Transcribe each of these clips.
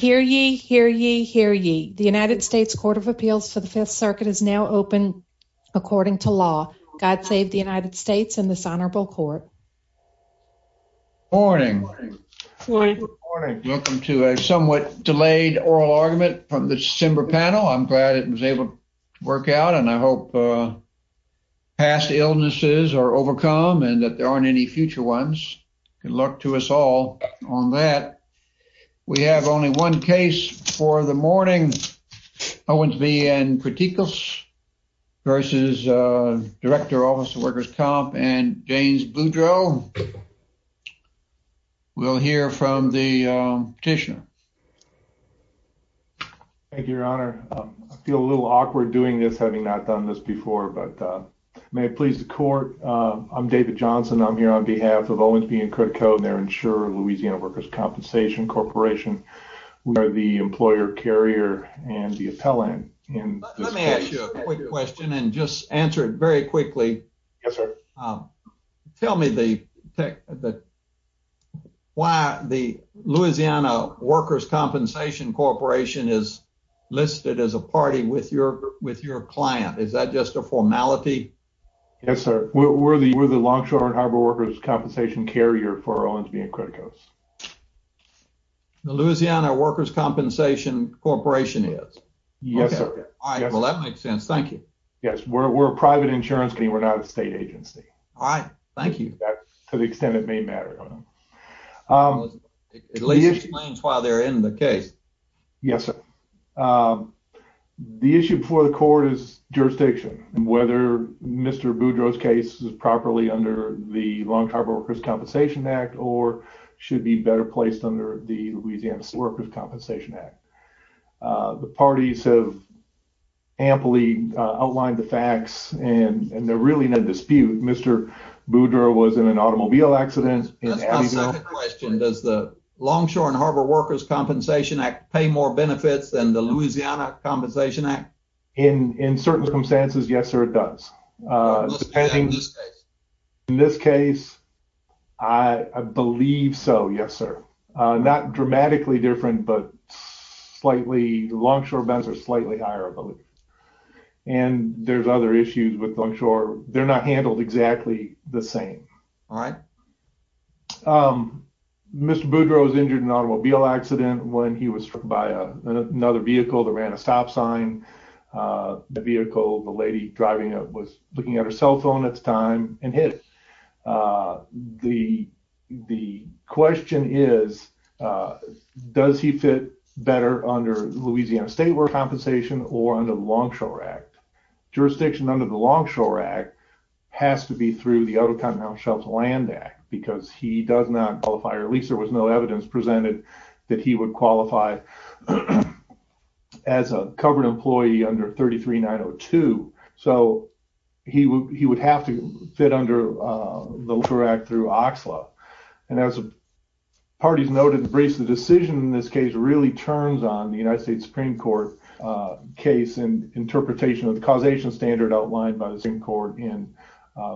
Hear ye, hear ye, hear ye. The United States Court of Appeals for the Fifth Circuit is now open according to law. God save the United States and this honorable court. Good morning. Welcome to a somewhat delayed oral argument from the December panel. I'm glad it was able to work out and I hope past illnesses are overcome and that there aren't any future ones. Good luck to us all on that. We have only one case for the morning. Owensby & Kritikos v. Director, Office of Workers' Comp and James Boudreaux. We'll hear from the petitioner. Thank you, your honor. I feel a little awkward doing this having not done this before, but Owensby & Kritikos and their insurer, Louisiana Workers' Compensation Corporation. We are the employer carrier and the appellant. Let me ask you a quick question and just answer it very quickly. Yes, sir. Tell me why the Louisiana Workers' Compensation Corporation is listed as a party with your client. Is that just a formality? Yes, sir. We're the Longshore and for Owensby & Kritikos. The Louisiana Workers' Compensation Corporation is? Yes, sir. All right, well that makes sense. Thank you. Yes, we're a private insurance company. We're not a state agency. All right, thank you. That's to the extent it may matter. It explains why they're in the case. Yes, sir. The issue before the court is jurisdiction and whether Mr. Boudreaux's is properly under the Longshore and Harbor Workers' Compensation Act or should be better placed under the Louisiana Workers' Compensation Act. The parties have amply outlined the facts and they're really in a dispute. Mr. Boudreaux was in an automobile accident. That's my second question. Does the Longshore and Harbor Workers' Compensation Act pay more benefits than the Louisiana Compensation Act? In certain circumstances, yes, sir, it does. In this case? In this case, I believe so, yes, sir. Not dramatically different, but slightly, Longshore bends are slightly higher, I believe, and there's other issues with Longshore. They're not handled exactly the same. All right. Mr. Boudreaux was injured in an automobile accident when he was struck by another vehicle that ran a stop sign. The vehicle, the lady driving it was looking at her cell phone at the time and hit it. The question is, does he fit better under Louisiana State Workers' Compensation or under the Longshore Act? Jurisdiction under the Longshore Act has to be through the Out-of-Continental Shelf Land Act because he does not qualify, or at least there was no evidence presented that he would qualify as a covered employee under 33-902, so he would have to fit under the Longshore Act through OXLA. As the parties noted in the briefs, the decision in this case really turns on the United States Supreme Court case and interpretation of the causation standard outlined by the Supreme Court in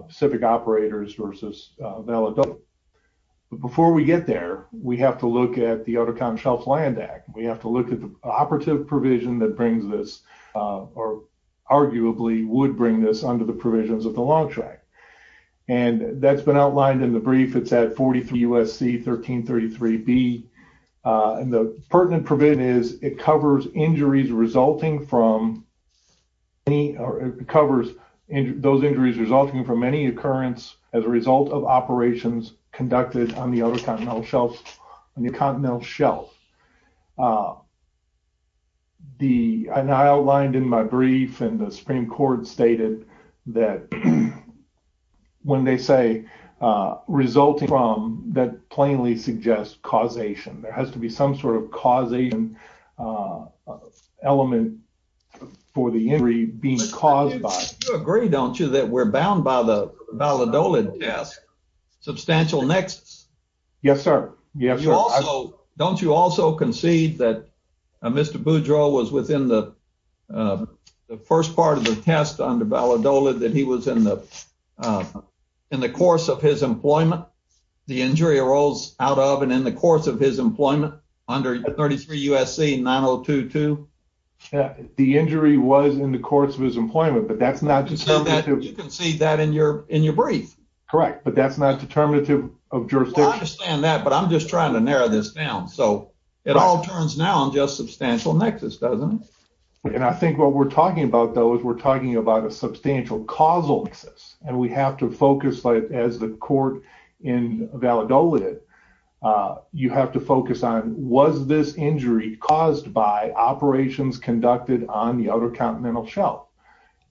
Pacific Operators v. Valladolid. Before we get there, we have to look at the Out-of-Continental Shelf Land Act. We have to look at the operative provision that brings this, or arguably would bring this under the provisions of the Longshore Act. That's been outlined in the brief. It's at 43 U.S.C. 1333B. The pertinent provision is it covers injuries resulting from any occurrence as a result of operations conducted on the Out-of-Continental Shelf. I outlined in my brief, and the Supreme Court stated that when they say resulting from, that plainly suggests causation. There has to be some sort of causation element for the injury being caused by. You agree, don't you, that we're Yes, sir. Don't you also concede that Mr. Boudreaux was within the first part of the test under Valladolid, that he was in the course of his employment, the injury arose out of and in the course of his employment under 33 U.S.C. 9022? The injury was in the course of his employment, but that's not... You concede that in your brief. Correct, but that's not determinative of jurisdiction. I understand that, but I'm just trying to narrow this down. So, it all turns now on just substantial nexus, doesn't it? I think what we're talking about, though, is we're talking about a substantial causal nexus. We have to focus, as the court in Valladolid, you have to focus on was this injury caused by operations conducted on the Out-of-Continental Shelf?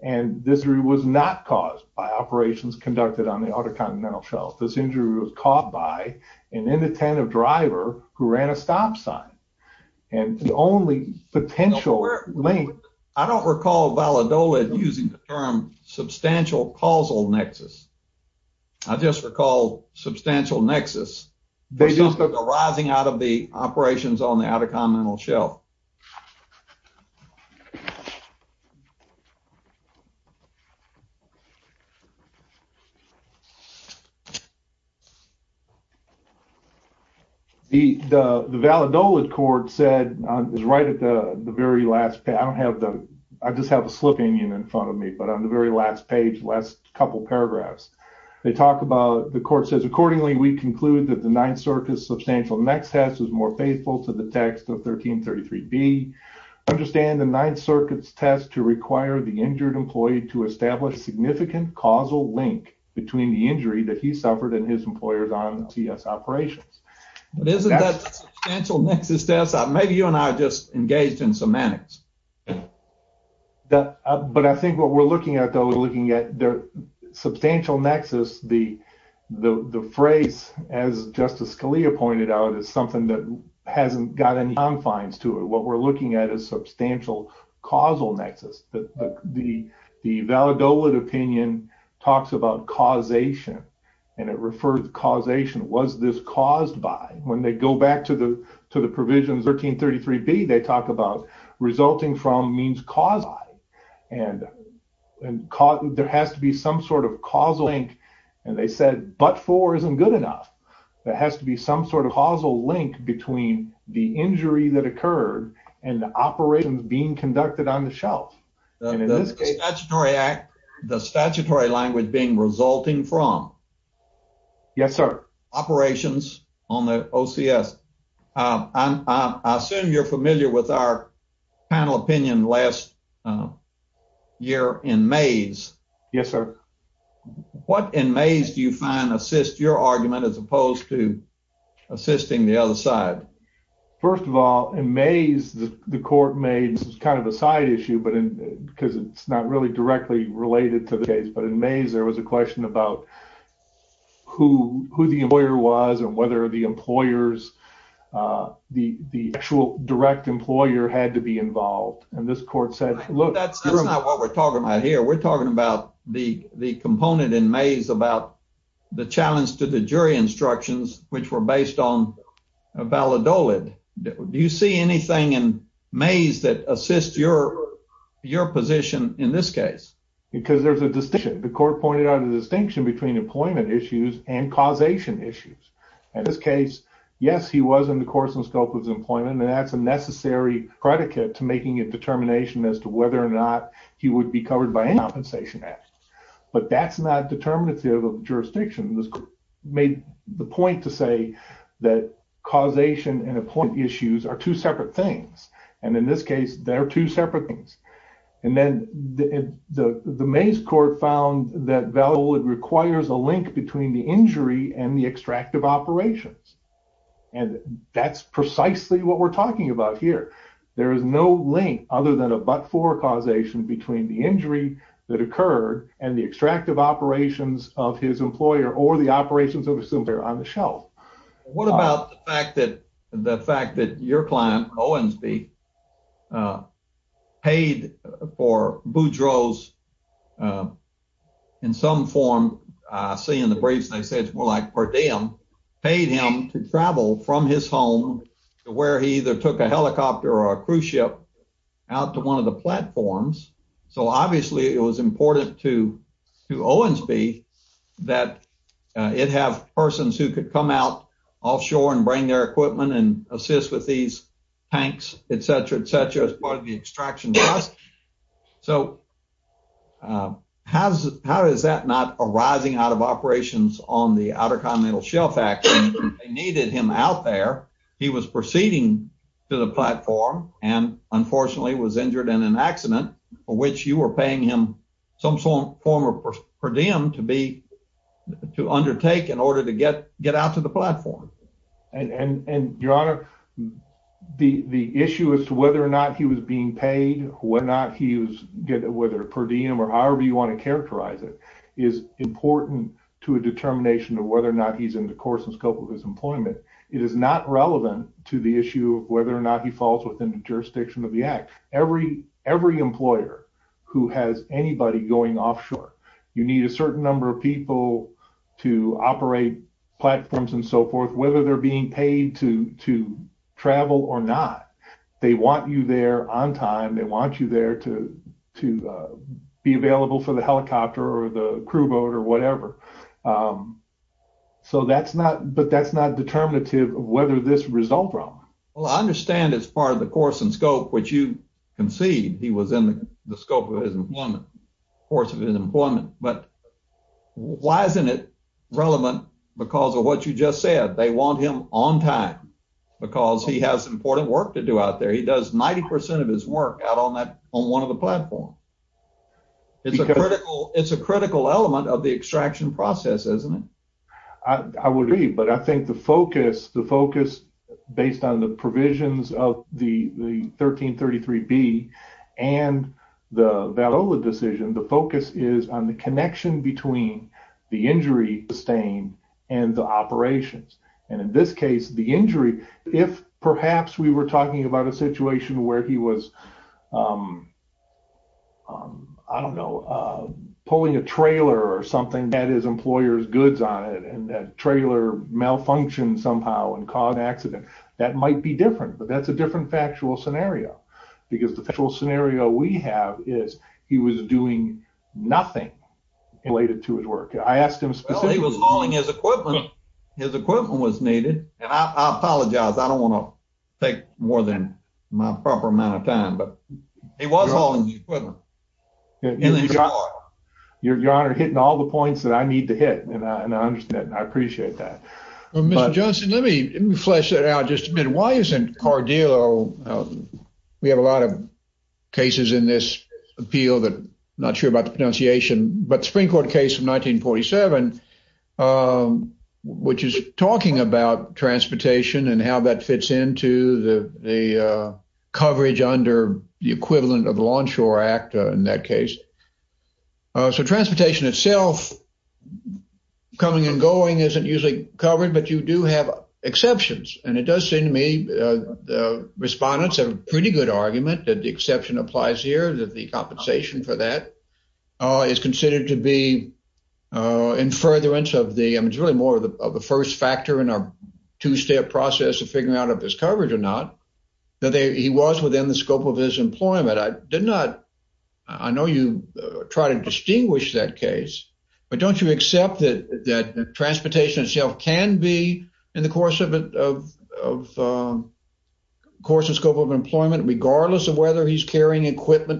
This injury was not caused by operations conducted on the Out-of-Continental Shelf. This injury was caused by an inattentive driver who ran a stop sign, and the only potential link... I don't recall Valladolid using the term substantial causal nexus. I just recall substantial nexus arising out of the Out-of-Continental Shelf. The Valladolid court said, is right at the very last... I just have a slip in front of me, but on the very last page, last couple paragraphs, they talk about... The court says, accordingly, we conclude that the Ninth Circuit's substantial nexus is more faithful to the text of 1333B. Understand the Ninth Circuit's to require the injured employee to establish significant causal link between the injury that he suffered and his employers on CS operations. But isn't that substantial nexus, maybe you and I just engaged in semantics. But I think what we're looking at, though, we're looking at their substantial nexus, the phrase, as Justice Scalia pointed out, is something that hasn't got any confines to it. What we're looking at is substantial causal nexus. The Valladolid opinion talks about causation, and it refers to causation, was this caused by... When they go back to the provisions 1333B, they talk about resulting from means caused by, and there has to be some sort of causal link. And they said, but for isn't good enough. There has to be some sort of causal link between the injury that occurred and the operations being conducted on the shelf. The statutory act, the statutory language being resulting from... Yes, sir. Operations on the OCS. I assume you're familiar with our panel opinion last year in Mays. Yes, sir. What in Mays do you find assist your argument as opposed to assisting the other side? First of all, in Mays, the court made, this is kind of a side issue, because it's not really directly related to the case. But in Mays, there was a question about who the employer was and whether the employers, the actual direct employer had to be involved. And this court said... That's not what we're talking about here. We're talking about the component in Mays about the challenge to the jury instructions, which were based on Valadolid. Do you see anything in Mays that assist your position in this case? Because there's a distinction. The court pointed out a distinction between employment issues and causation issues. In this case, yes, he was in the course and scope of his employment, and that's a necessary predicate to making a determination as to whether or not he would be covered by any compensation act. But that's not determinative of jurisdiction. This court made the point to say that causation and employment issues are two separate things. And in this case, they're two separate things. And then the Mays court found that Valadolid requires a link between the injury and the There is no link other than a but-for causation between the injury that occurred and the extractive operations of his employer or the operations of his employer on the shelf. What about the fact that your client, Owensby, paid for Boudreaux's, in some form, I see in the briefs they say it's more like per diem, paid him to travel from his or a cruise ship out to one of the platforms. So, obviously, it was important to Owensby that it have persons who could come out offshore and bring their equipment and assist with these tanks, et cetera, et cetera, as part of the extraction. So, how is that not arising out of operations on the Outer Continental Shelf Act? They needed him out there. He was proceeding to the platform and, unfortunately, was injured in an accident for which you were paying him some form of per diem to undertake in order to get out to the platform. And, Your Honor, the issue as to whether or not he was being paid, whether per diem or however you want to characterize it, is important to a determination of whether or not he's in the issue of whether or not he falls within the jurisdiction of the Act. Every employer who has anybody going offshore, you need a certain number of people to operate platforms and so forth, whether they're being paid to travel or not. They want you there on time. They want you there to be available for the helicopter or the crew boat or whatever. So, that's not, but that's not determinative of whether this results from. Well, I understand it's part of the course and scope which you concede he was in the scope of his employment, course of his employment, but why isn't it relevant because of what you just said? They want him on time because he has important work to do out there. He does 90 percent of his work out on that, on one of the platforms. It's a critical, it's a critical element of the extraction process, isn't it? I would agree, but I think the focus, the focus based on the provisions of the 1333B and the Valola decision, the focus is on the connection between the injury sustained and the operations. And in this case, the injury, if perhaps we were talking about a situation where he was, I don't know, pulling a trailer or something that had his employer's goods on it and that trailer malfunctioned somehow and caused an accident, that might be different, but that's a different factual scenario because the actual scenario we have is he was doing nothing related to his work. I asked him specifically. Well, he was hauling his equipment. His equipment was needed, and I apologize. I don't want to take more than my proper amount of time, but he was hauling the equipment. Your Honor, you're hitting all the points that I need to hit, and I understand. I appreciate that. Well, Mr. Johnson, let me flesh that out just a bit. Why isn't Cardillo, we have a lot of cases in this appeal that I'm not sure about the pronunciation, but the Supreme Court case of 1947, which is talking about transportation and how that fits into the coverage under the equivalent of the Lawnshore Act in that case. So, transportation itself coming and going isn't usually covered, but you do have exceptions. And it does seem to me the respondents have a pretty good argument that the exception applies here, that the compensation for that is considered to be in furtherance of the, it's really more of the first factor in our two-step process of figuring out if it's covered or not, that he was within the scope of his employment. I did not, I know you try to distinguish that case, but don't you accept that transportation itself can be in the course of scope of employment regardless of whether he's paid, et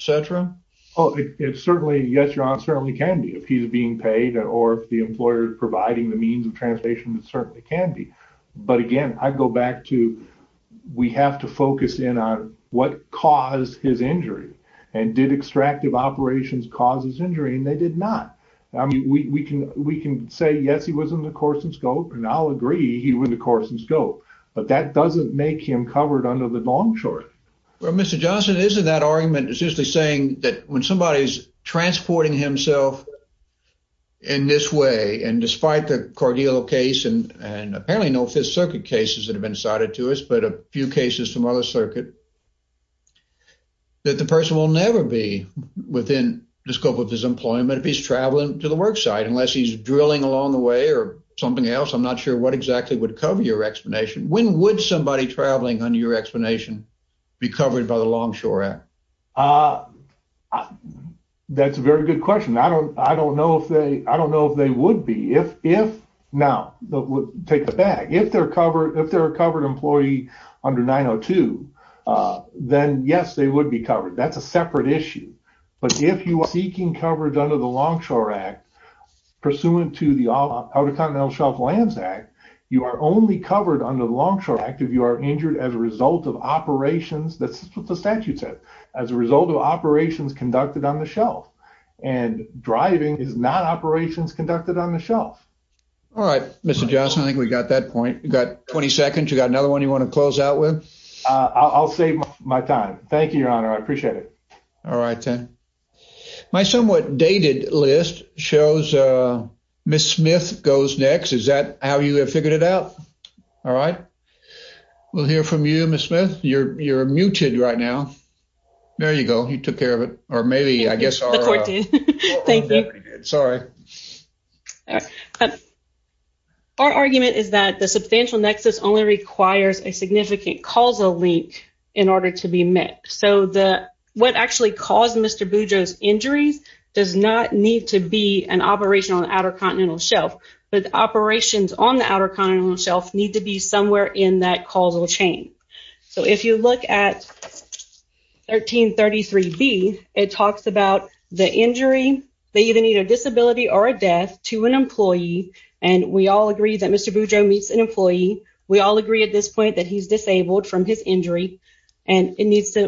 cetera? Oh, it certainly, yes, your honor, it certainly can be if he's being paid or if the employer is providing the means of transportation, it certainly can be. But again, I'd go back to, we have to focus in on what caused his injury and did extractive operations cause his injury and they did not. I mean, we can say, yes, he was in the course and scope, and I'll agree he was in the course and scope, but that doesn't make him covered under the When somebody's transporting himself in this way, and despite the Corgillo case, and apparently no Fifth Circuit cases that have been cited to us, but a few cases from other circuit, that the person will never be within the scope of his employment if he's traveling to the work site, unless he's drilling along the way or something else. I'm not sure what exactly would cover your explanation. When would somebody traveling under your explanation be covered by the Longshore Act? That's a very good question. I don't, I don't know if they, I don't know if they would be if, now take it back. If they're covered, if they're a covered employee under 902, then yes, they would be covered. That's a separate issue. But if you are seeking coverage under the Longshore Act, pursuant to the Outer Continental Shelf Lands Act, you are only covered under the Longshore Act if you are injured as a result of operations that the statute said, as a result of operations conducted on the shelf. And driving is not operations conducted on the shelf. All right, Mr. Johnson, I think we got that point. You got 20 seconds. You got another one you want to close out with? I'll save my time. Thank you, Your Honor. I appreciate it. All right, then. My somewhat dated list shows Miss Smith goes next. Is that how you have figured it out? All right. We'll hear from you, Miss Smith. You're muted right now. There you go. You took care of it. Or maybe I guess the court did. Thank you. Sorry. Our argument is that the substantial nexus only requires a significant causal link in order to be met. So the, what actually caused Mr. Boudreaux's injuries does not need to be an operation on the Outer Continental Shelf. But the operations on the Outer Continental Shelf need to be somewhere in that causal chain. So if you look at 1333B, it talks about the injury. They either need a disability or a death to an employee. And we all agree that Mr. Boudreaux meets an employee. We all agree at this point that he's disabled from his injury. And it needs to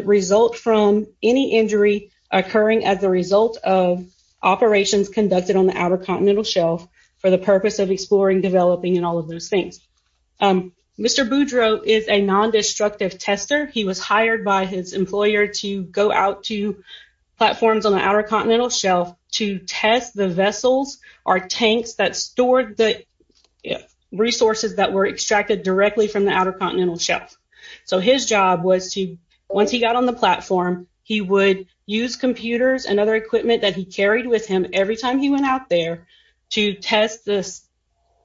occurring as a result of operations conducted on the Outer Continental Shelf for the purpose of exploring, developing, and all of those things. Mr. Boudreaux is a non-destructive tester. He was hired by his employer to go out to platforms on the Outer Continental Shelf to test the vessels or tanks that stored the resources that were extracted directly from the Outer Continental Shelf. So his job was to, once he got on the platform, he would use computers and other equipment that he carried with him every time he went out there to test the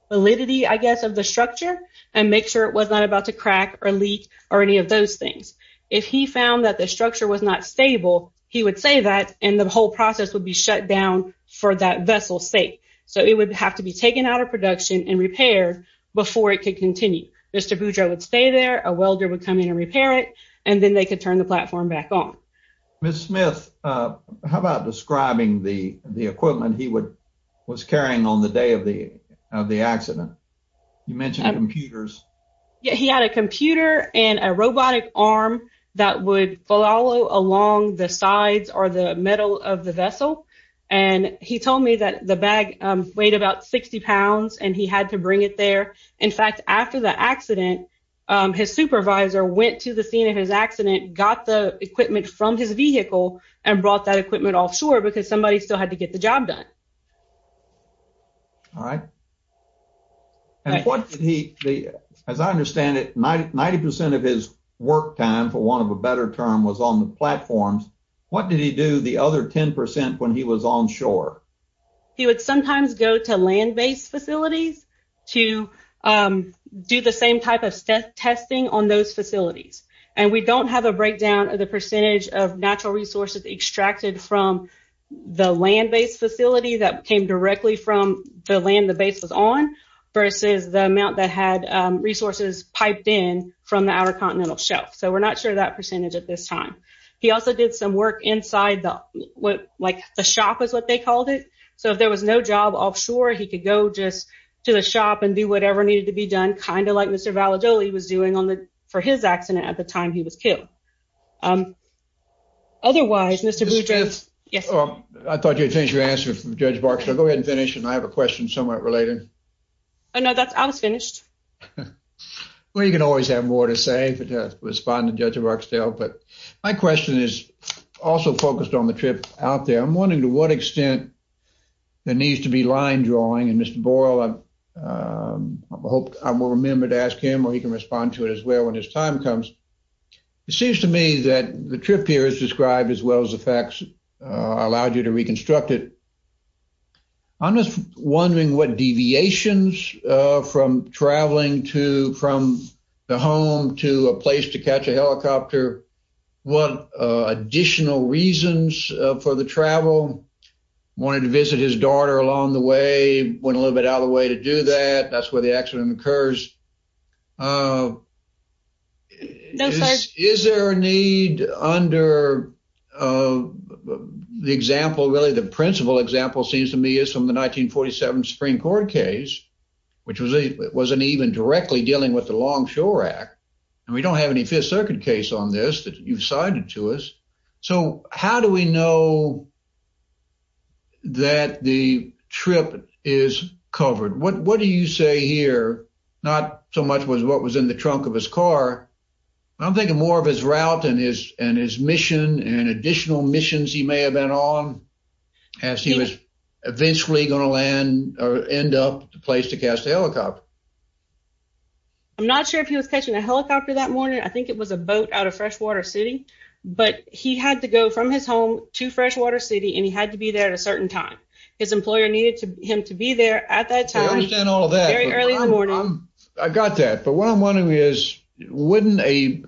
validity, I guess, of the structure and make sure it was not about to crack or leak or any of those things. If he found that the structure was not stable, he would say that and the whole process would be shut down for that vessel's sake. So it would have to be taken out of production and repaired before it could continue. Mr. Boudreaux would stay there, a welder would come in and repair it, and then they could turn the platform back on. Miss Smith, how about describing the equipment he was carrying on the day of the accident? You mentioned computers. Yeah, he had a computer and a robotic arm that would follow along the sides or the middle of the vessel. And he told me that the bag weighed about 60 pounds and he had to bring it there. In fact, after the accident, his supervisor went to the scene of his accident, got the equipment from his vehicle, and brought that equipment offshore because somebody still had to get the job done. All right. As I understand it, 90% of his work time, for want of a better term, was on the platforms. What did he do the other 10% when he was onshore? He would sometimes go to land-based facilities to do the same type of testing on those facilities. And we don't have a breakdown of the percentage of natural resources extracted from the land-based facility that came directly from the land the base was on versus the amount that had resources piped in from the Outer Continental Shelf. So we're not sure that percentage at this is what they called it. So if there was no job offshore, he could go just to the shop and do whatever needed to be done, kind of like Mr. Valladolid was doing for his accident at the time he was killed. Otherwise, Mr. Boudreaux... I thought you had finished your answer from Judge Barksdale. Go ahead and finish and I have a question somewhat related. Oh no, I was finished. Well, you can always have more to say to respond to Judge Barksdale. But my question is also to what extent there needs to be line drawing. And Mr. Boyle, I hope I will remember to ask him or he can respond to it as well when his time comes. It seems to me that the trip here is described as well as the facts allowed you to reconstruct it. I'm just wondering what deviations from traveling from the home to a place to catch a helicopter, what additional reasons for the travel? Wanted to visit his daughter along the way, went a little bit out of the way to do that. That's where the accident occurs. Is there a need under the example, really the principal example seems to me is from the 1947 Supreme Court case, which wasn't even directly dealing with the Long Shore Act. And we don't have any Fifth Circuit case on this that you've cited to us. So how do we know that the trip is covered? What do you say here? Not so much was what was in the trunk of his car. I'm thinking more of his route and his mission and additional missions he may have been on as he was eventually going to land or end up at the place to catch the helicopter. I'm not sure if he was catching a helicopter that morning. I think it was a boat out of Freshwater City. But he had to go from his home to Freshwater City and he had to be there at a certain time. His employer needed him to be there at that time. I understand all of that. Very early in the morning. I got that. But what I'm wondering is wouldn't a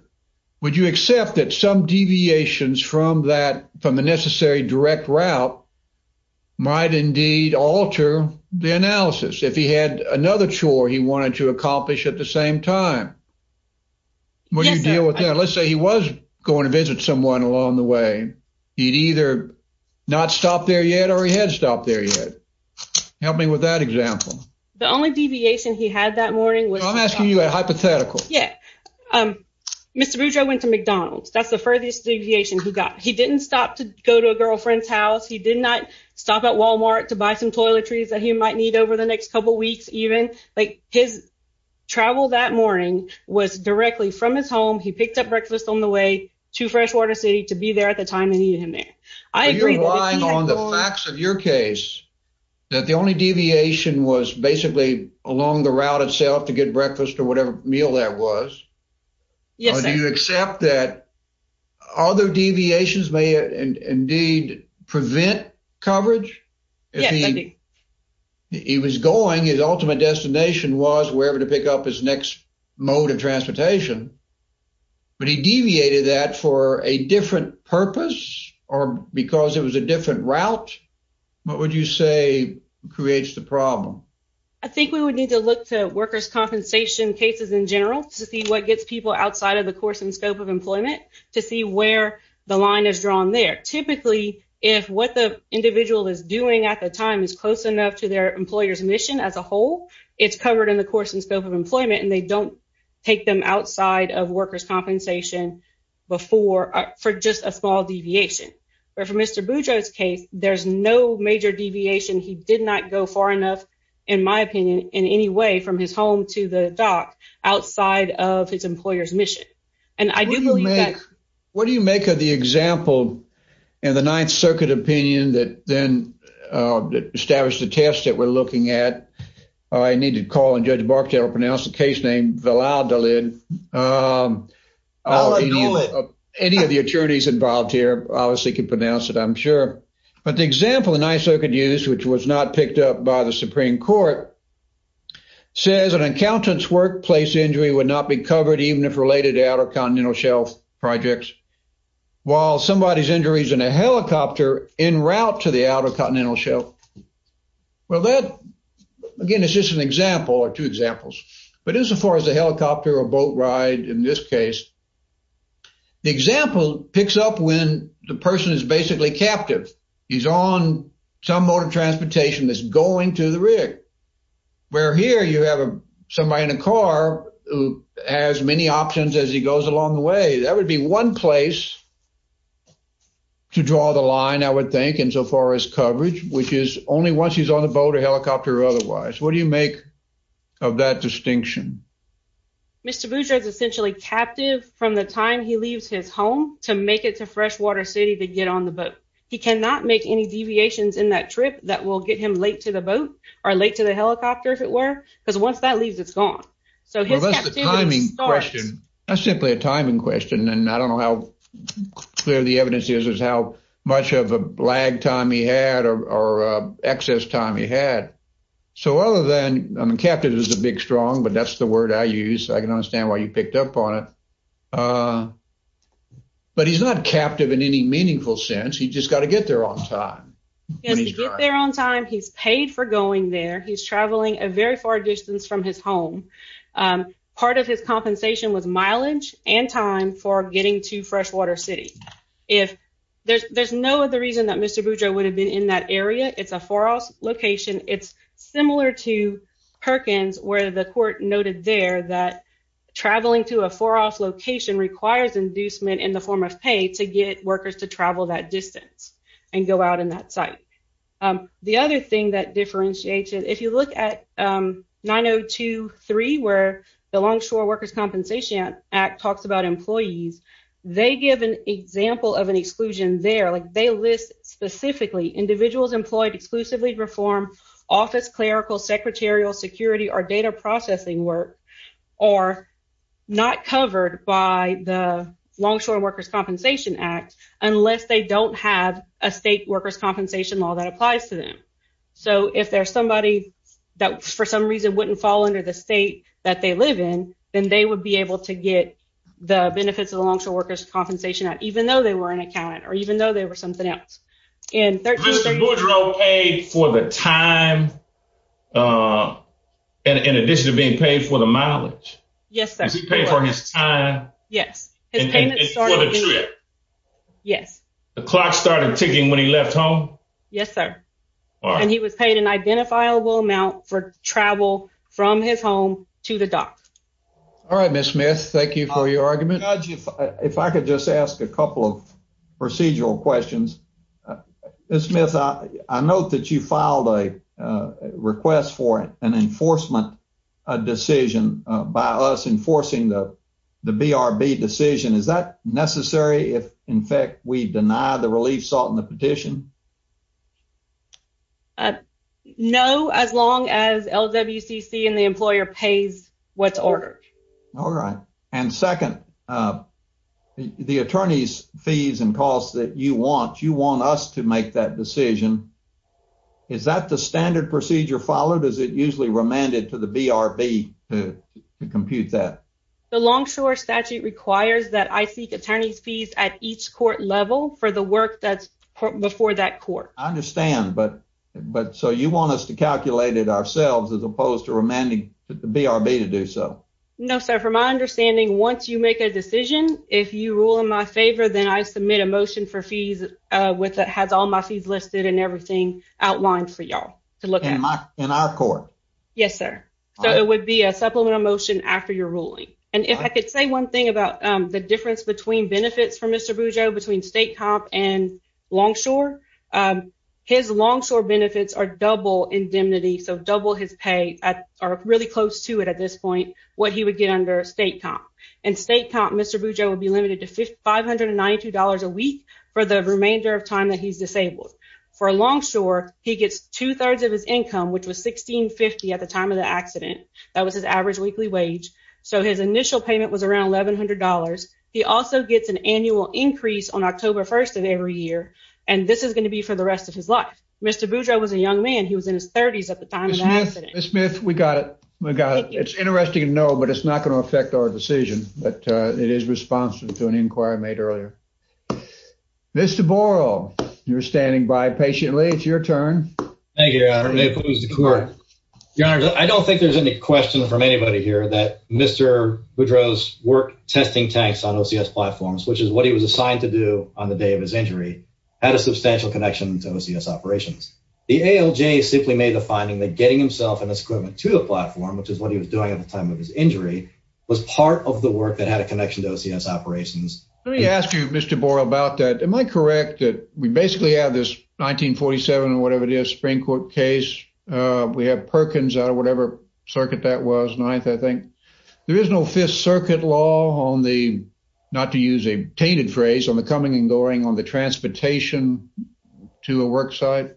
would you accept that some deviations from that from the necessary direct route might indeed alter the analysis if he had another chore he wanted to go and visit someone along the way. He'd either not stop there yet or he had stopped there yet. Help me with that example. The only deviation he had that morning was... I'm asking you a hypothetical. Yeah. Mr. Boudreau went to McDonald's. That's the furthest deviation he got. He didn't stop to go to a girlfriend's house. He did not stop at Walmart to buy some toiletries that he might need over the next couple weeks even. Like his travel that morning was directly from his home. He picked up breakfast on the way to Freshwater City to be there at the time they needed him there. Are you relying on the facts of your case that the only deviation was basically along the route itself to get breakfast or whatever meal that was? Yes. Do you accept that other deviations may indeed prevent coverage? Yes. If he was going his ultimate destination was wherever to pick up his mode of transportation, but he deviated that for a different purpose or because it was a different route, what would you say creates the problem? I think we would need to look to workers' compensation cases in general to see what gets people outside of the course and scope of employment to see where the line is drawn there. Typically, if what the individual is doing at the time is close enough to their employer's mission as a whole, it's covered in the course and scope of take them outside of workers' compensation for just a small deviation. But for Mr. Boudreaux's case, there's no major deviation. He did not go far enough, in my opinion, in any way from his home to the dock outside of his employer's mission. What do you make of the example in the Ninth Circuit opinion that then established the test that we're looking at? I need to call on Judge Barchet to pronounce the case name Valladolid. Any of the attorneys involved here obviously can pronounce it, I'm sure. But the example the Ninth Circuit used, which was not picked up by the Supreme Court, says an accountant's workplace injury would not be covered even if related to Outer Continental Shelf projects, while somebody's injury is in a helicopter en route to the Outer Continental Shelf. Well, that, again, is just an example or two examples. But insofar as a helicopter or boat ride in this case, the example picks up when the person is basically captive. He's on some mode of transportation that's going to the rig, where here you have somebody in a car who has many options as he goes along the way. That would be one place to draw the line, insofar as coverage, which is only once he's on the boat or helicopter or otherwise. What do you make of that distinction? Mr. Boucher is essentially captive from the time he leaves his home to make it to Freshwater City to get on the boat. He cannot make any deviations in that trip that will get him late to the boat or late to the helicopter, if it were, because once that leaves, it's gone. So his captivity starts. That's simply a timing question, and I don't know how clear the evidence is, is how much of a lag time he had or excess time he had. So other than, I mean, captive is a big strong, but that's the word I use. I can understand why you picked up on it. But he's not captive in any meaningful sense. He just got to get there on time. Yes, to get there on time, he's paid for going there. He's traveling a very far distance from his home. Part of his compensation was mileage and time for getting to Freshwater City. There's no other reason that Mr. Boucher would have been in that area. It's a far off location. It's similar to Perkins, where the court noted there that traveling to a far off location requires inducement in the form of pay to get workers to travel that distance and go out in that site. The other thing that differentiates it, if you look at 9023, where the Longshore Workers' Compensation Act talks about employees, they give an example of an exclusion there. They list specifically individuals employed exclusively to perform office, clerical, secretarial, security, or data processing work are not covered by the Longshore Workers' Compensation Act unless they don't have a state workers' compensation law that applies to them. So if there's somebody that for reason wouldn't fall under the state that they live in, then they would be able to get the benefits of the Longshore Workers' Compensation Act even though they were unaccounted or even though they were something else. Mr. Boudreaux paid for the time in addition to being paid for the mileage? Yes, sir. Did he pay for his time? Yes. The clock started ticking when he left home? Yes, sir. And he was paid an identifiable amount for travel from his home to the dock. All right, Ms. Smith, thank you for your argument. If I could just ask a couple of procedural questions. Ms. Smith, I note that you filed a request for an enforcement decision by us enforcing the BRB decision. Is that necessary if, in fact, we deny the relief sought in the petition? No, as long as LWCC and the employer pays what's ordered. All right. And second, the attorney's fees and costs that you want, you want us to make that decision. Is that the standard procedure followed? Is it usually remanded to the BRB to compute that? The Longshore statute requires that I seek attorney's fees at each court level for the work that's before that court. I understand, but so you want us to calculate it ourselves as opposed to remanding the BRB to do so? No, sir. From my understanding, once you make a decision, if you rule in my favor, then I submit a motion for fees that has all my fees listed and everything outlined for y'all. In our court? Yes, sir. So it would be a supplemental motion after your ruling. And if I could say one thing about the difference between benefits for Mr. Bujo, between state comp and Longshore, his Longshore benefits are double indemnity. So double his pay are really close to it at this point, what he would get under state comp. In state comp, Mr. Bujo would be limited to $592 a week for the remainder of time that he's disabled. For Longshore, he gets two-thirds of his income, which was $1,650 at the time of the accident. That was his average weekly wage. So his initial payment was around $1,100. He also gets an annual increase on October 1st of every year. And this is going to be for the rest of his life. Mr. Bujo was a young man. He was in his 30s at the time of the accident. Ms. Smith, we got it. We got it. It's interesting to know, but it's not going to affect our decision, but it is responsive to an inquiry made earlier. Mr. Borel, you're standing by patiently. It's your turn. Thank you, Your Honor. May it please the Court. Your Honor, I don't think there's any question from anybody here that Mr. Bujo's work testing tanks on OCS platforms, which is what he was assigned to do on the day of his injury, had a substantial connection to OCS operations. The ALJ simply made the finding that getting himself and his equipment to the platform, which is what he was doing at the time of his injury, was part of the work that had a connection to OCS operations. Let me ask you, Mr. Borel, about that. Am I correct that we basically have this 1947 or whatever it is, Supreme Court case? We have Perkins out of whatever circuit that was, ninth, I think. There is no Fifth Circuit law on the, not to use a tainted phrase, on the coming and going on the transportation to a work site?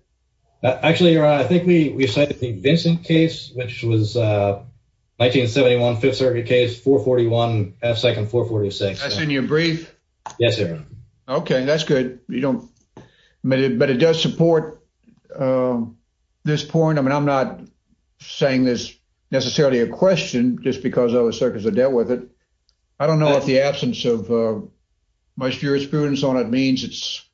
Actually, Your Honor, I think we cited the Vincent case, which was a 1971 Fifth Circuit case, 441 F 2nd 446. That's in your brief? Yes, Your Honor. Okay, that's good. You don't, but it does support this point. I mean, I'm not saying this necessarily a question just because other circuits are dealt with it. I don't know what the absence of my jurisprudence on it means. It's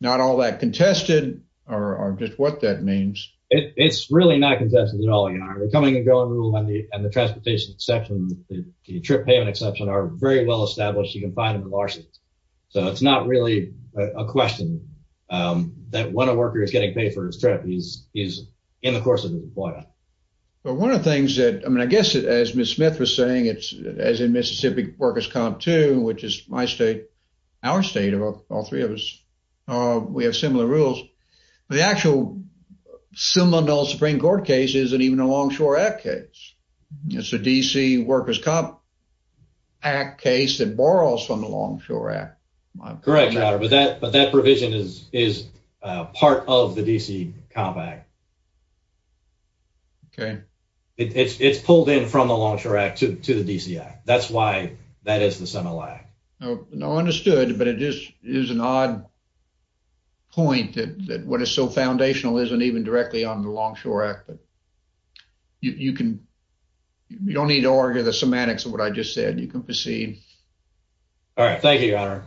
not all that contested, or just what that means. It's really not contested at all, Your Honor. The coming and going rule and the transportation exception, the trip payment exception, are very well established. You can find them in lawsuits. So, it's not really a question that when a worker is getting paid for his trip, he's in the course of his employment. But one of the things that, I mean, I guess as Ms. Smith was saying, it's as in Mississippi Workers' Comp 2, which is my state, our state, of all three of us, we have similar rules. The actual similar Supreme Court case isn't even a Longshore Act case. It's a DC Workers' Comp Act case that borrows from the Longshore Act. Correct, Your Honor, but that provision is part of the DC Comp Act. Okay. It's pulled in from the Longshore Act to the DC Act. That's why that is the semilac. No, understood, but it is an odd point that what is so foundational isn't even directly on the circuit. You can proceed. All right. Thank you, Your Honor.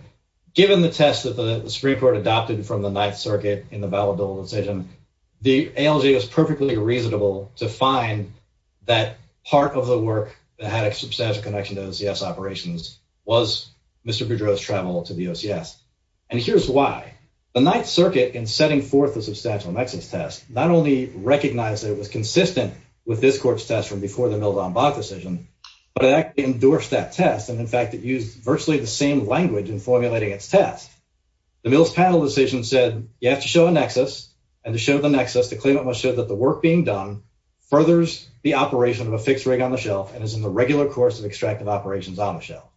Given the test that the Supreme Court adopted from the Ninth Circuit in the valid double decision, the ALJ was perfectly reasonable to find that part of the work that had a substantial connection to OCS operations was Mr. Boudreaux's travel to the OCS. And here's why. The Ninth Circuit, in setting forth the substantial nexus test, not only recognized that it was consistent with this court's test from before the Mildon-Bach decision, but it actually endorsed that test. And in fact, it used virtually the same language in formulating its test. The Mildon-Bach decision said you have to show a nexus, and to show the nexus, the claimant must show that the work being done furthers the operation of a fixed rig on the shelf and is in the regular course of extractive operations on the shelf.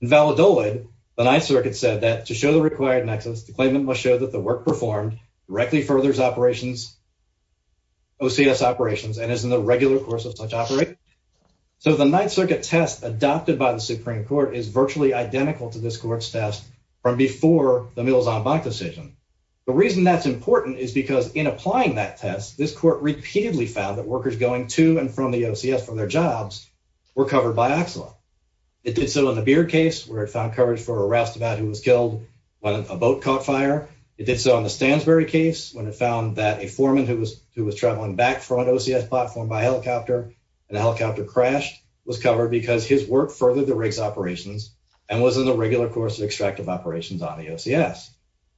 In the valid double decision, the Ninth Circuit said that to show the required nexus, the claimant must show that the work performed directly furthers OCS operations and is in the regular course of such operation. So the Ninth Circuit test adopted by the Supreme Court is virtually identical to this court's test from before the Mildon-Bach decision. The reason that's important is because in applying that test, this court repeatedly found that workers going to and from the OCS for their jobs were covered by OCSLA. It did so in the Beard case, where it found coverage for a Rastabad who was killed when a boat caught fire. It did so in the Stansbury case, when it found that a foreman who was traveling back from an OCS platform by helicopter and the helicopter crashed was covered because his work furthered the rig's operations and was in the regular course of extractive operations on the OCS.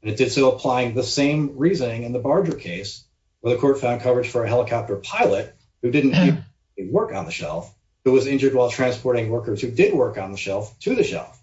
And it did so applying the same reasoning in the Barger case, where the court found coverage for a helicopter pilot who didn't work on the shelf, who was injured while transporting workers who did work on the shelf to the shelf.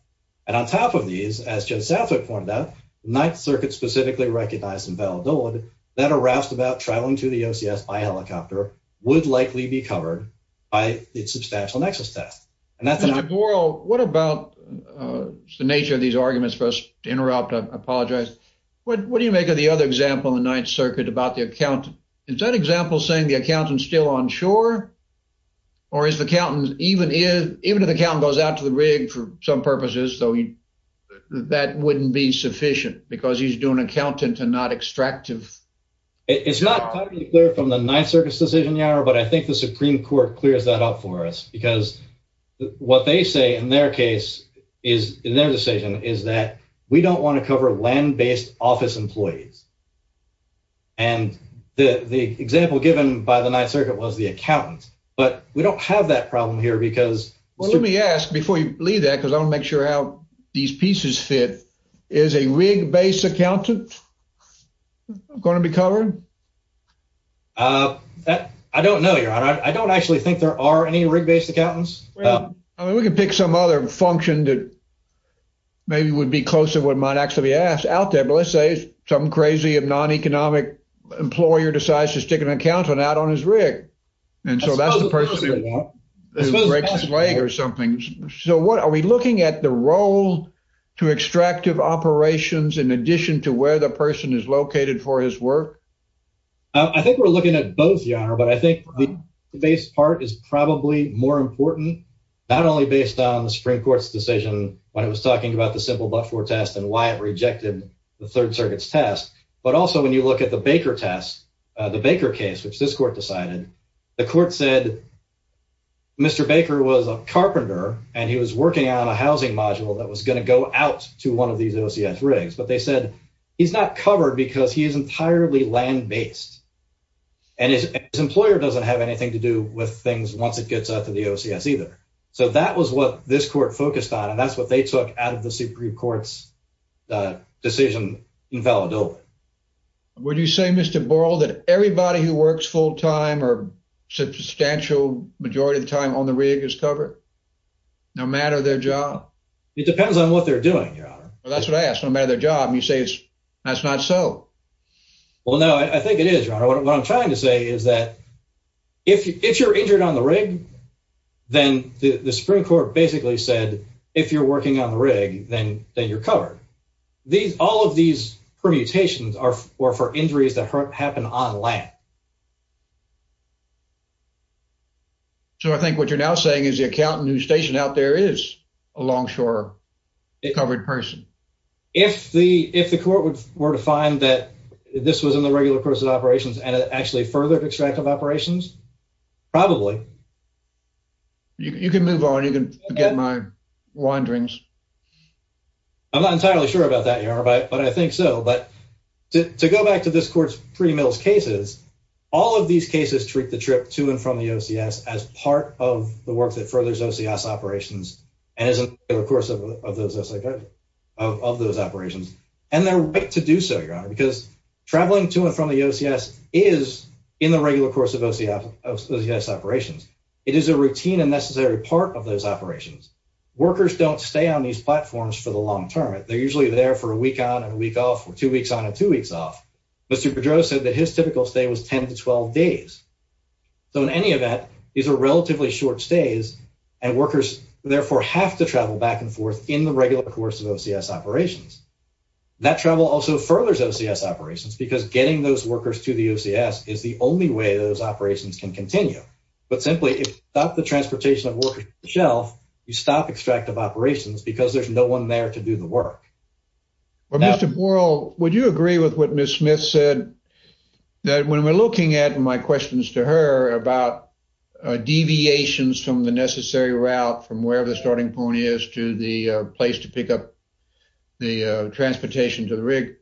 And on top of these, as Judge Southwick pointed out, the Ninth Circuit specifically recognized in Valedolid that a Rastabad traveling to the OCS by helicopter would likely be covered by its substantial nexus test. And that's an... Mr. Borel, what about the nature of these arguments for us to interrupt? I apologize. What do you make of the other example in the Ninth Circuit about the accountant? Is that example saying the accountant's still on shore? Or is the accountant, even if the accountant goes out to the rig for some purposes, that wouldn't be sufficient because he's doing accounting to not extractive It's not totally clear from the Ninth Circuit's decision, Yara, but I think the Supreme Court clears that up for us. Because what they say in their case, in their decision, is that we don't want to cover land-based office employees. And the example given by the Ninth Circuit was the accountant. But we don't have that problem here because... Well, let me ask before you leave that, because I want to make sure how these pieces fit. Is a rig-based accountant going to be covered? I don't know, Yara. I don't actually think there are any rig-based accountants. I mean, we can pick some other function that maybe would be closer to what might actually be asked out there. But let's say some crazy non-economic employer decides to stick an accountant out on his rig. And so that's the person who breaks his leg or something. So are we looking at the role to extractive operations in addition to where the person is located for his work? I think we're looking at both, Yara, but I think the rig-based part is probably more important, not only based on the Supreme Court's decision when it was talking about the simple but-for test and why it rejected the Third Circuit's test, but also when you look at the Baker test, the Baker case, which this court decided, the court said Mr. Baker was a carpenter and he was working on a housing module that was going to go out to one of these OCS rigs. But they said he's not covered because he is entirely land-based and his employer doesn't have anything to do with things once it gets out to the OCS either. So that was what this court focused on, and that's what they took out of the Supreme Court's decision in Valladolid. Would you say, Mr. Borrell, that everybody who works full-time or substantial majority of the time on the rig is covered, no matter their job? It depends on what they're doing, Your Honor. Well, that's what I asked. No matter their job, you say it's not so. Well, no, I think it is, Your Honor. What I'm trying to say is that if you're injured on the rig, then the Supreme Court basically said, if you're working on the rig, then you're covered. All of these permutations are for injuries that happen on land. So I think what you're now saying is the accountant who's stationed out there is a longshore covered person. If the court were to find that this was in the regular course of operations and it actually furthered extractive operations, probably. You can move on. You can forget my wonderings. I'm not entirely sure about that, Your Honor, but I think so. But to go back to this court's pre-Mills cases, all of these cases treat the trip to and from the OCS as part of the work that furthers OCS operations and is in the regular course of those operations. And they're right to do so, Your Honor, because traveling to and from the OCS is in the regular course of OCS operations. It is a routine and necessary part of those operations. Workers don't stay on these platforms for the long term. They're usually there for a week on and a week off or two weeks on and two weeks off. Mr. Pedro said that his typical stay was 10 to 12 days. So in any event, these are relatively short stays and workers therefore have to travel back and forth in the regular course of OCS operations. That travel also furthers OCS operations because getting those operations can continue. But simply, if you stop the transportation of workers to the shelf, you stop extractive operations because there's no one there to do the work. Well, Mr. Borel, would you agree with what Ms. Smith said that when we're looking at my questions to her about deviations from the necessary route from wherever the starting point is to the place to pick up the transportation to the rig,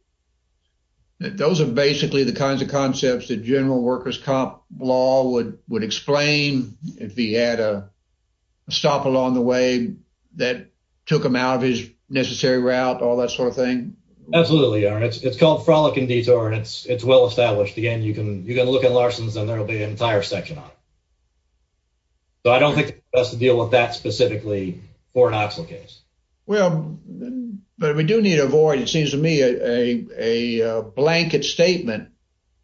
that those are basically the kinds of concepts that general workers' comp law would explain if he had a stop along the way that took him out of his necessary route, all that sort of thing? Absolutely, Aaron. It's called frolicking detour and it's well established. Again, you can look at Larson's and there will be an entire section on it. So I don't think it's best to deal with that specifically for an OCSL case. Well, but we do need to avoid, it seems to me, a blanket statement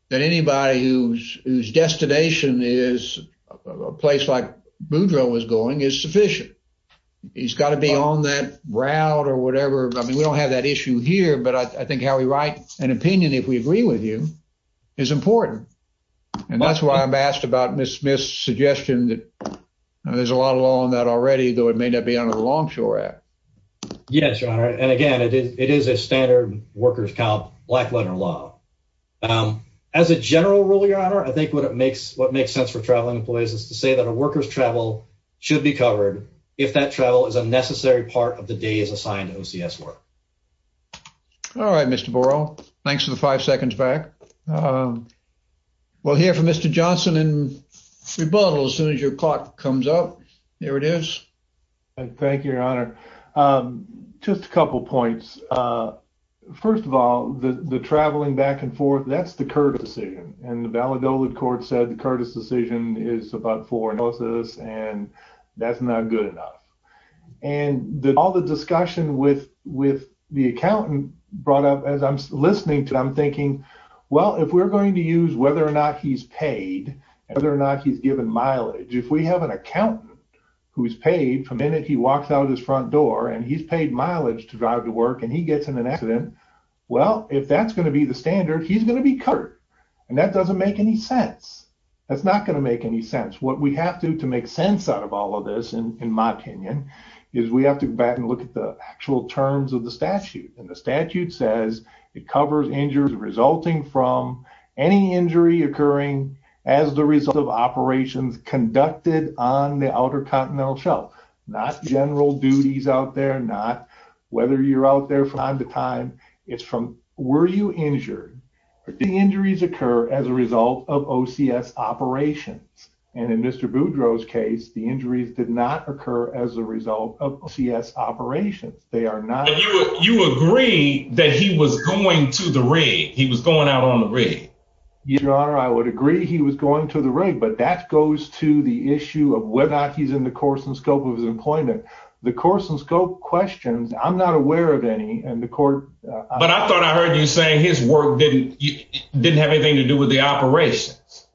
that anybody whose destination is a place like Boudreaux was going is sufficient. He's got to be on that route or whatever. I mean, we don't have that issue here, but I think how we write an opinion, if we agree with you, is important. And that's why I'm asked about Ms. Smith's suggestion that there's a lot of law on that already, though it may not be under the Longshore Act. Yes, your honor. And again, it is a standard workers' comp black letter law. As a general rule, your honor, I think what makes sense for traveling employees is to say that a worker's travel should be covered if that travel is a necessary part of the day is assigned to OCS work. All right, Mr. Borough. Thanks for the five seconds back. We'll hear from Mr. Johnson in rebuttal as soon as your clock comes up. There it is. Thank you, your honor. Just a couple points. First of all, the traveling back and forth, that's the Curtis decision. And the Valladolid court said the Curtis decision is about foreclosures and that's not good enough. And all the discussion with the accountant brought up as I'm listening to it, I'm thinking, well, if we're going to use whether or not he's paid, whether or not he's given mileage. If we have an accountant who's paid for a minute, he walks out his front door and he's paid mileage to drive to work and he gets in an accident. Well, if that's going to be the standard, he's going to be covered. And that doesn't make any sense. That's not going to make any sense. What we have to do to make sense out of all of this, in my opinion, is we have to go back and look at the actual terms of the statute. And the statute says it covers injuries resulting from any injury occurring as the result of operations conducted on the outer continental shelf, not general duties out there, not whether you're out there from time to time it's from, were you injured or the injuries occur as a result of OCS operations. And in Mr. Boudreaux's case, the injuries did not occur as a result of OCS operations. They are not. You agree that he was going to the rig. He was going out on the rig. Your honor, I would agree he was going to the rig, but that goes to the issue of whether or not he's in the course and scope of his employment, the course and scope questions. I'm not aware of any and the court. But I thought I heard you saying his work didn't, didn't have anything to do with the operations.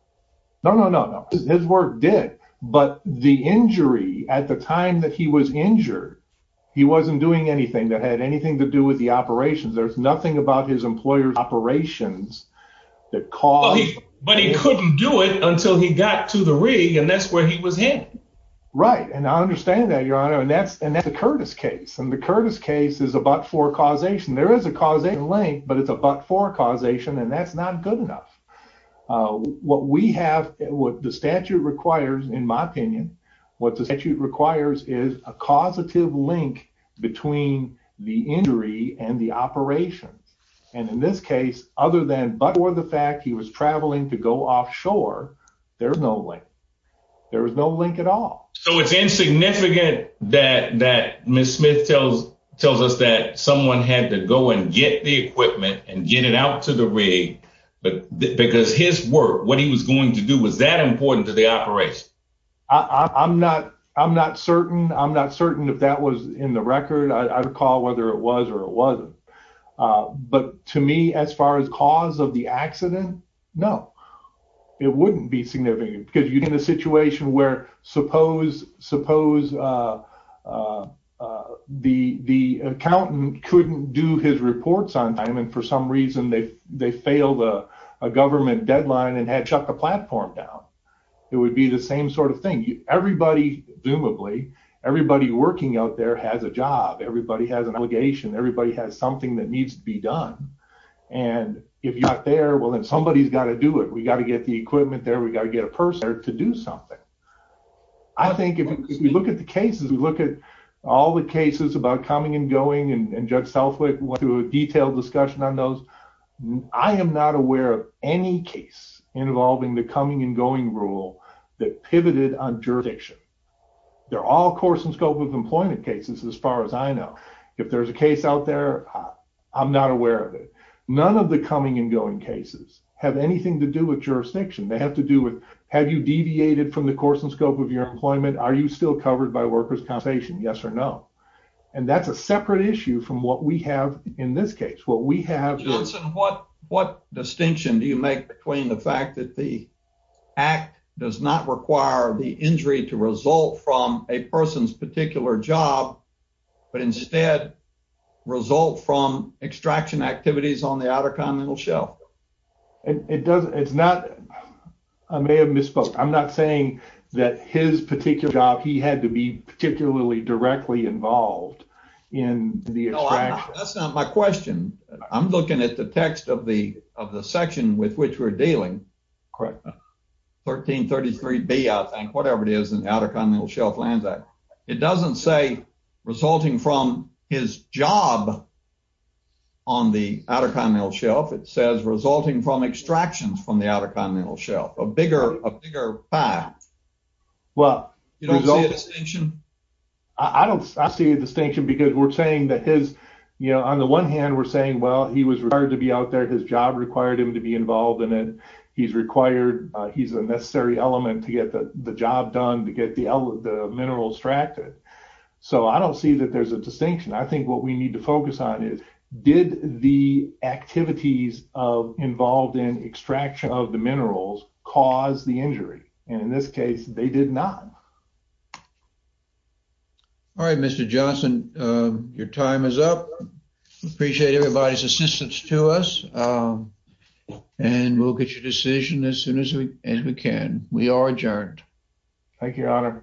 No, no, no, no. His work did, but the injury at the time that he was injured, he wasn't doing anything that had anything to do with the operations. There's nothing about his employer's operations that cause, but he couldn't do it until he got to the rig and that's where he was in. Right. And I understand that your honor. And that's, and that's the Curtis case. And the Curtis case is about for causation. There is a causation link, but it's about for causation. And that's not good enough. Uh, what we have, what the statute requires in my opinion, what the statute requires is a causative link between the injury and the operations. And in this case, other than, but for the fact he was traveling to go offshore, there's no way there was no link at all. So it's insignificant that, that Ms. Smith tells, tells us that someone had to go and get the equipment and get it out to the rig. But because his work, what he was going to do was that important to the operation. I'm not, I'm not certain. I'm not certain if that was in the record. I recall whether it was or it wasn't. Uh, but to me, as far as cause of the accident, no, it wouldn't be significant because you're in a situation where suppose, suppose, uh, uh, uh, the, the accountant couldn't do his reports on time. And for some reason they, they failed a, a government deadline and had shut the platform down. It would be the same sort of thing. Everybody, presumably everybody working out there has a job. Everybody has an obligation. Everybody has something that needs to be done. And if you're not there, well, then somebody has got to do it. We got to get the equipment there. We got to get a person to do something. I think if we look at the cases, we look at all the cases about coming and going and judge Southwick went through a detailed discussion on those. I am not aware of any case involving the coming and going rule that pivoted on jurisdiction. They're all course and scope of employment cases. As far as I know, if there's a case out there, I'm not aware of it. None of the coming and going cases have anything to do with jurisdiction. They have to do with, have you deviated from the course and scope of your employment? Are you covered by workers compensation? Yes or no. And that's a separate issue from what we have in this case, what we have, what, what distinction do you make between the fact that the act does not require the injury to result from a person's particular job, but instead result from extraction activities on the outer continental shelf. And it doesn't, it's not, I may have misspoke. I'm not saying that his particular job, he had to be particularly directly involved in the extraction. That's not my question. I'm looking at the text of the, of the section with which we're dealing. Correct. 1333B, I think, whatever it is in the Outer Continental Shelf Lands Act. It doesn't say resulting from his job on the outer continental shelf. It says resulting from extractions from the outer continental shelf, a bigger, a bigger path. Well, I don't see a distinction because we're saying that his, you know, on the one hand we're saying, well, he was required to be out there. His job required him to be involved in it. He's required, he's a necessary element to get the job done, to get the minerals extracted. So I don't see that there's a distinction. I think what we need to focus on is, did the activities of, involved in extraction of the minerals cause the injury? And in this case, they did not. All right, Mr. Johnson, your time is up. Appreciate everybody's assistance to us. And we'll get your decision as soon as we can. We are adjourned. Thank you, Your Honor.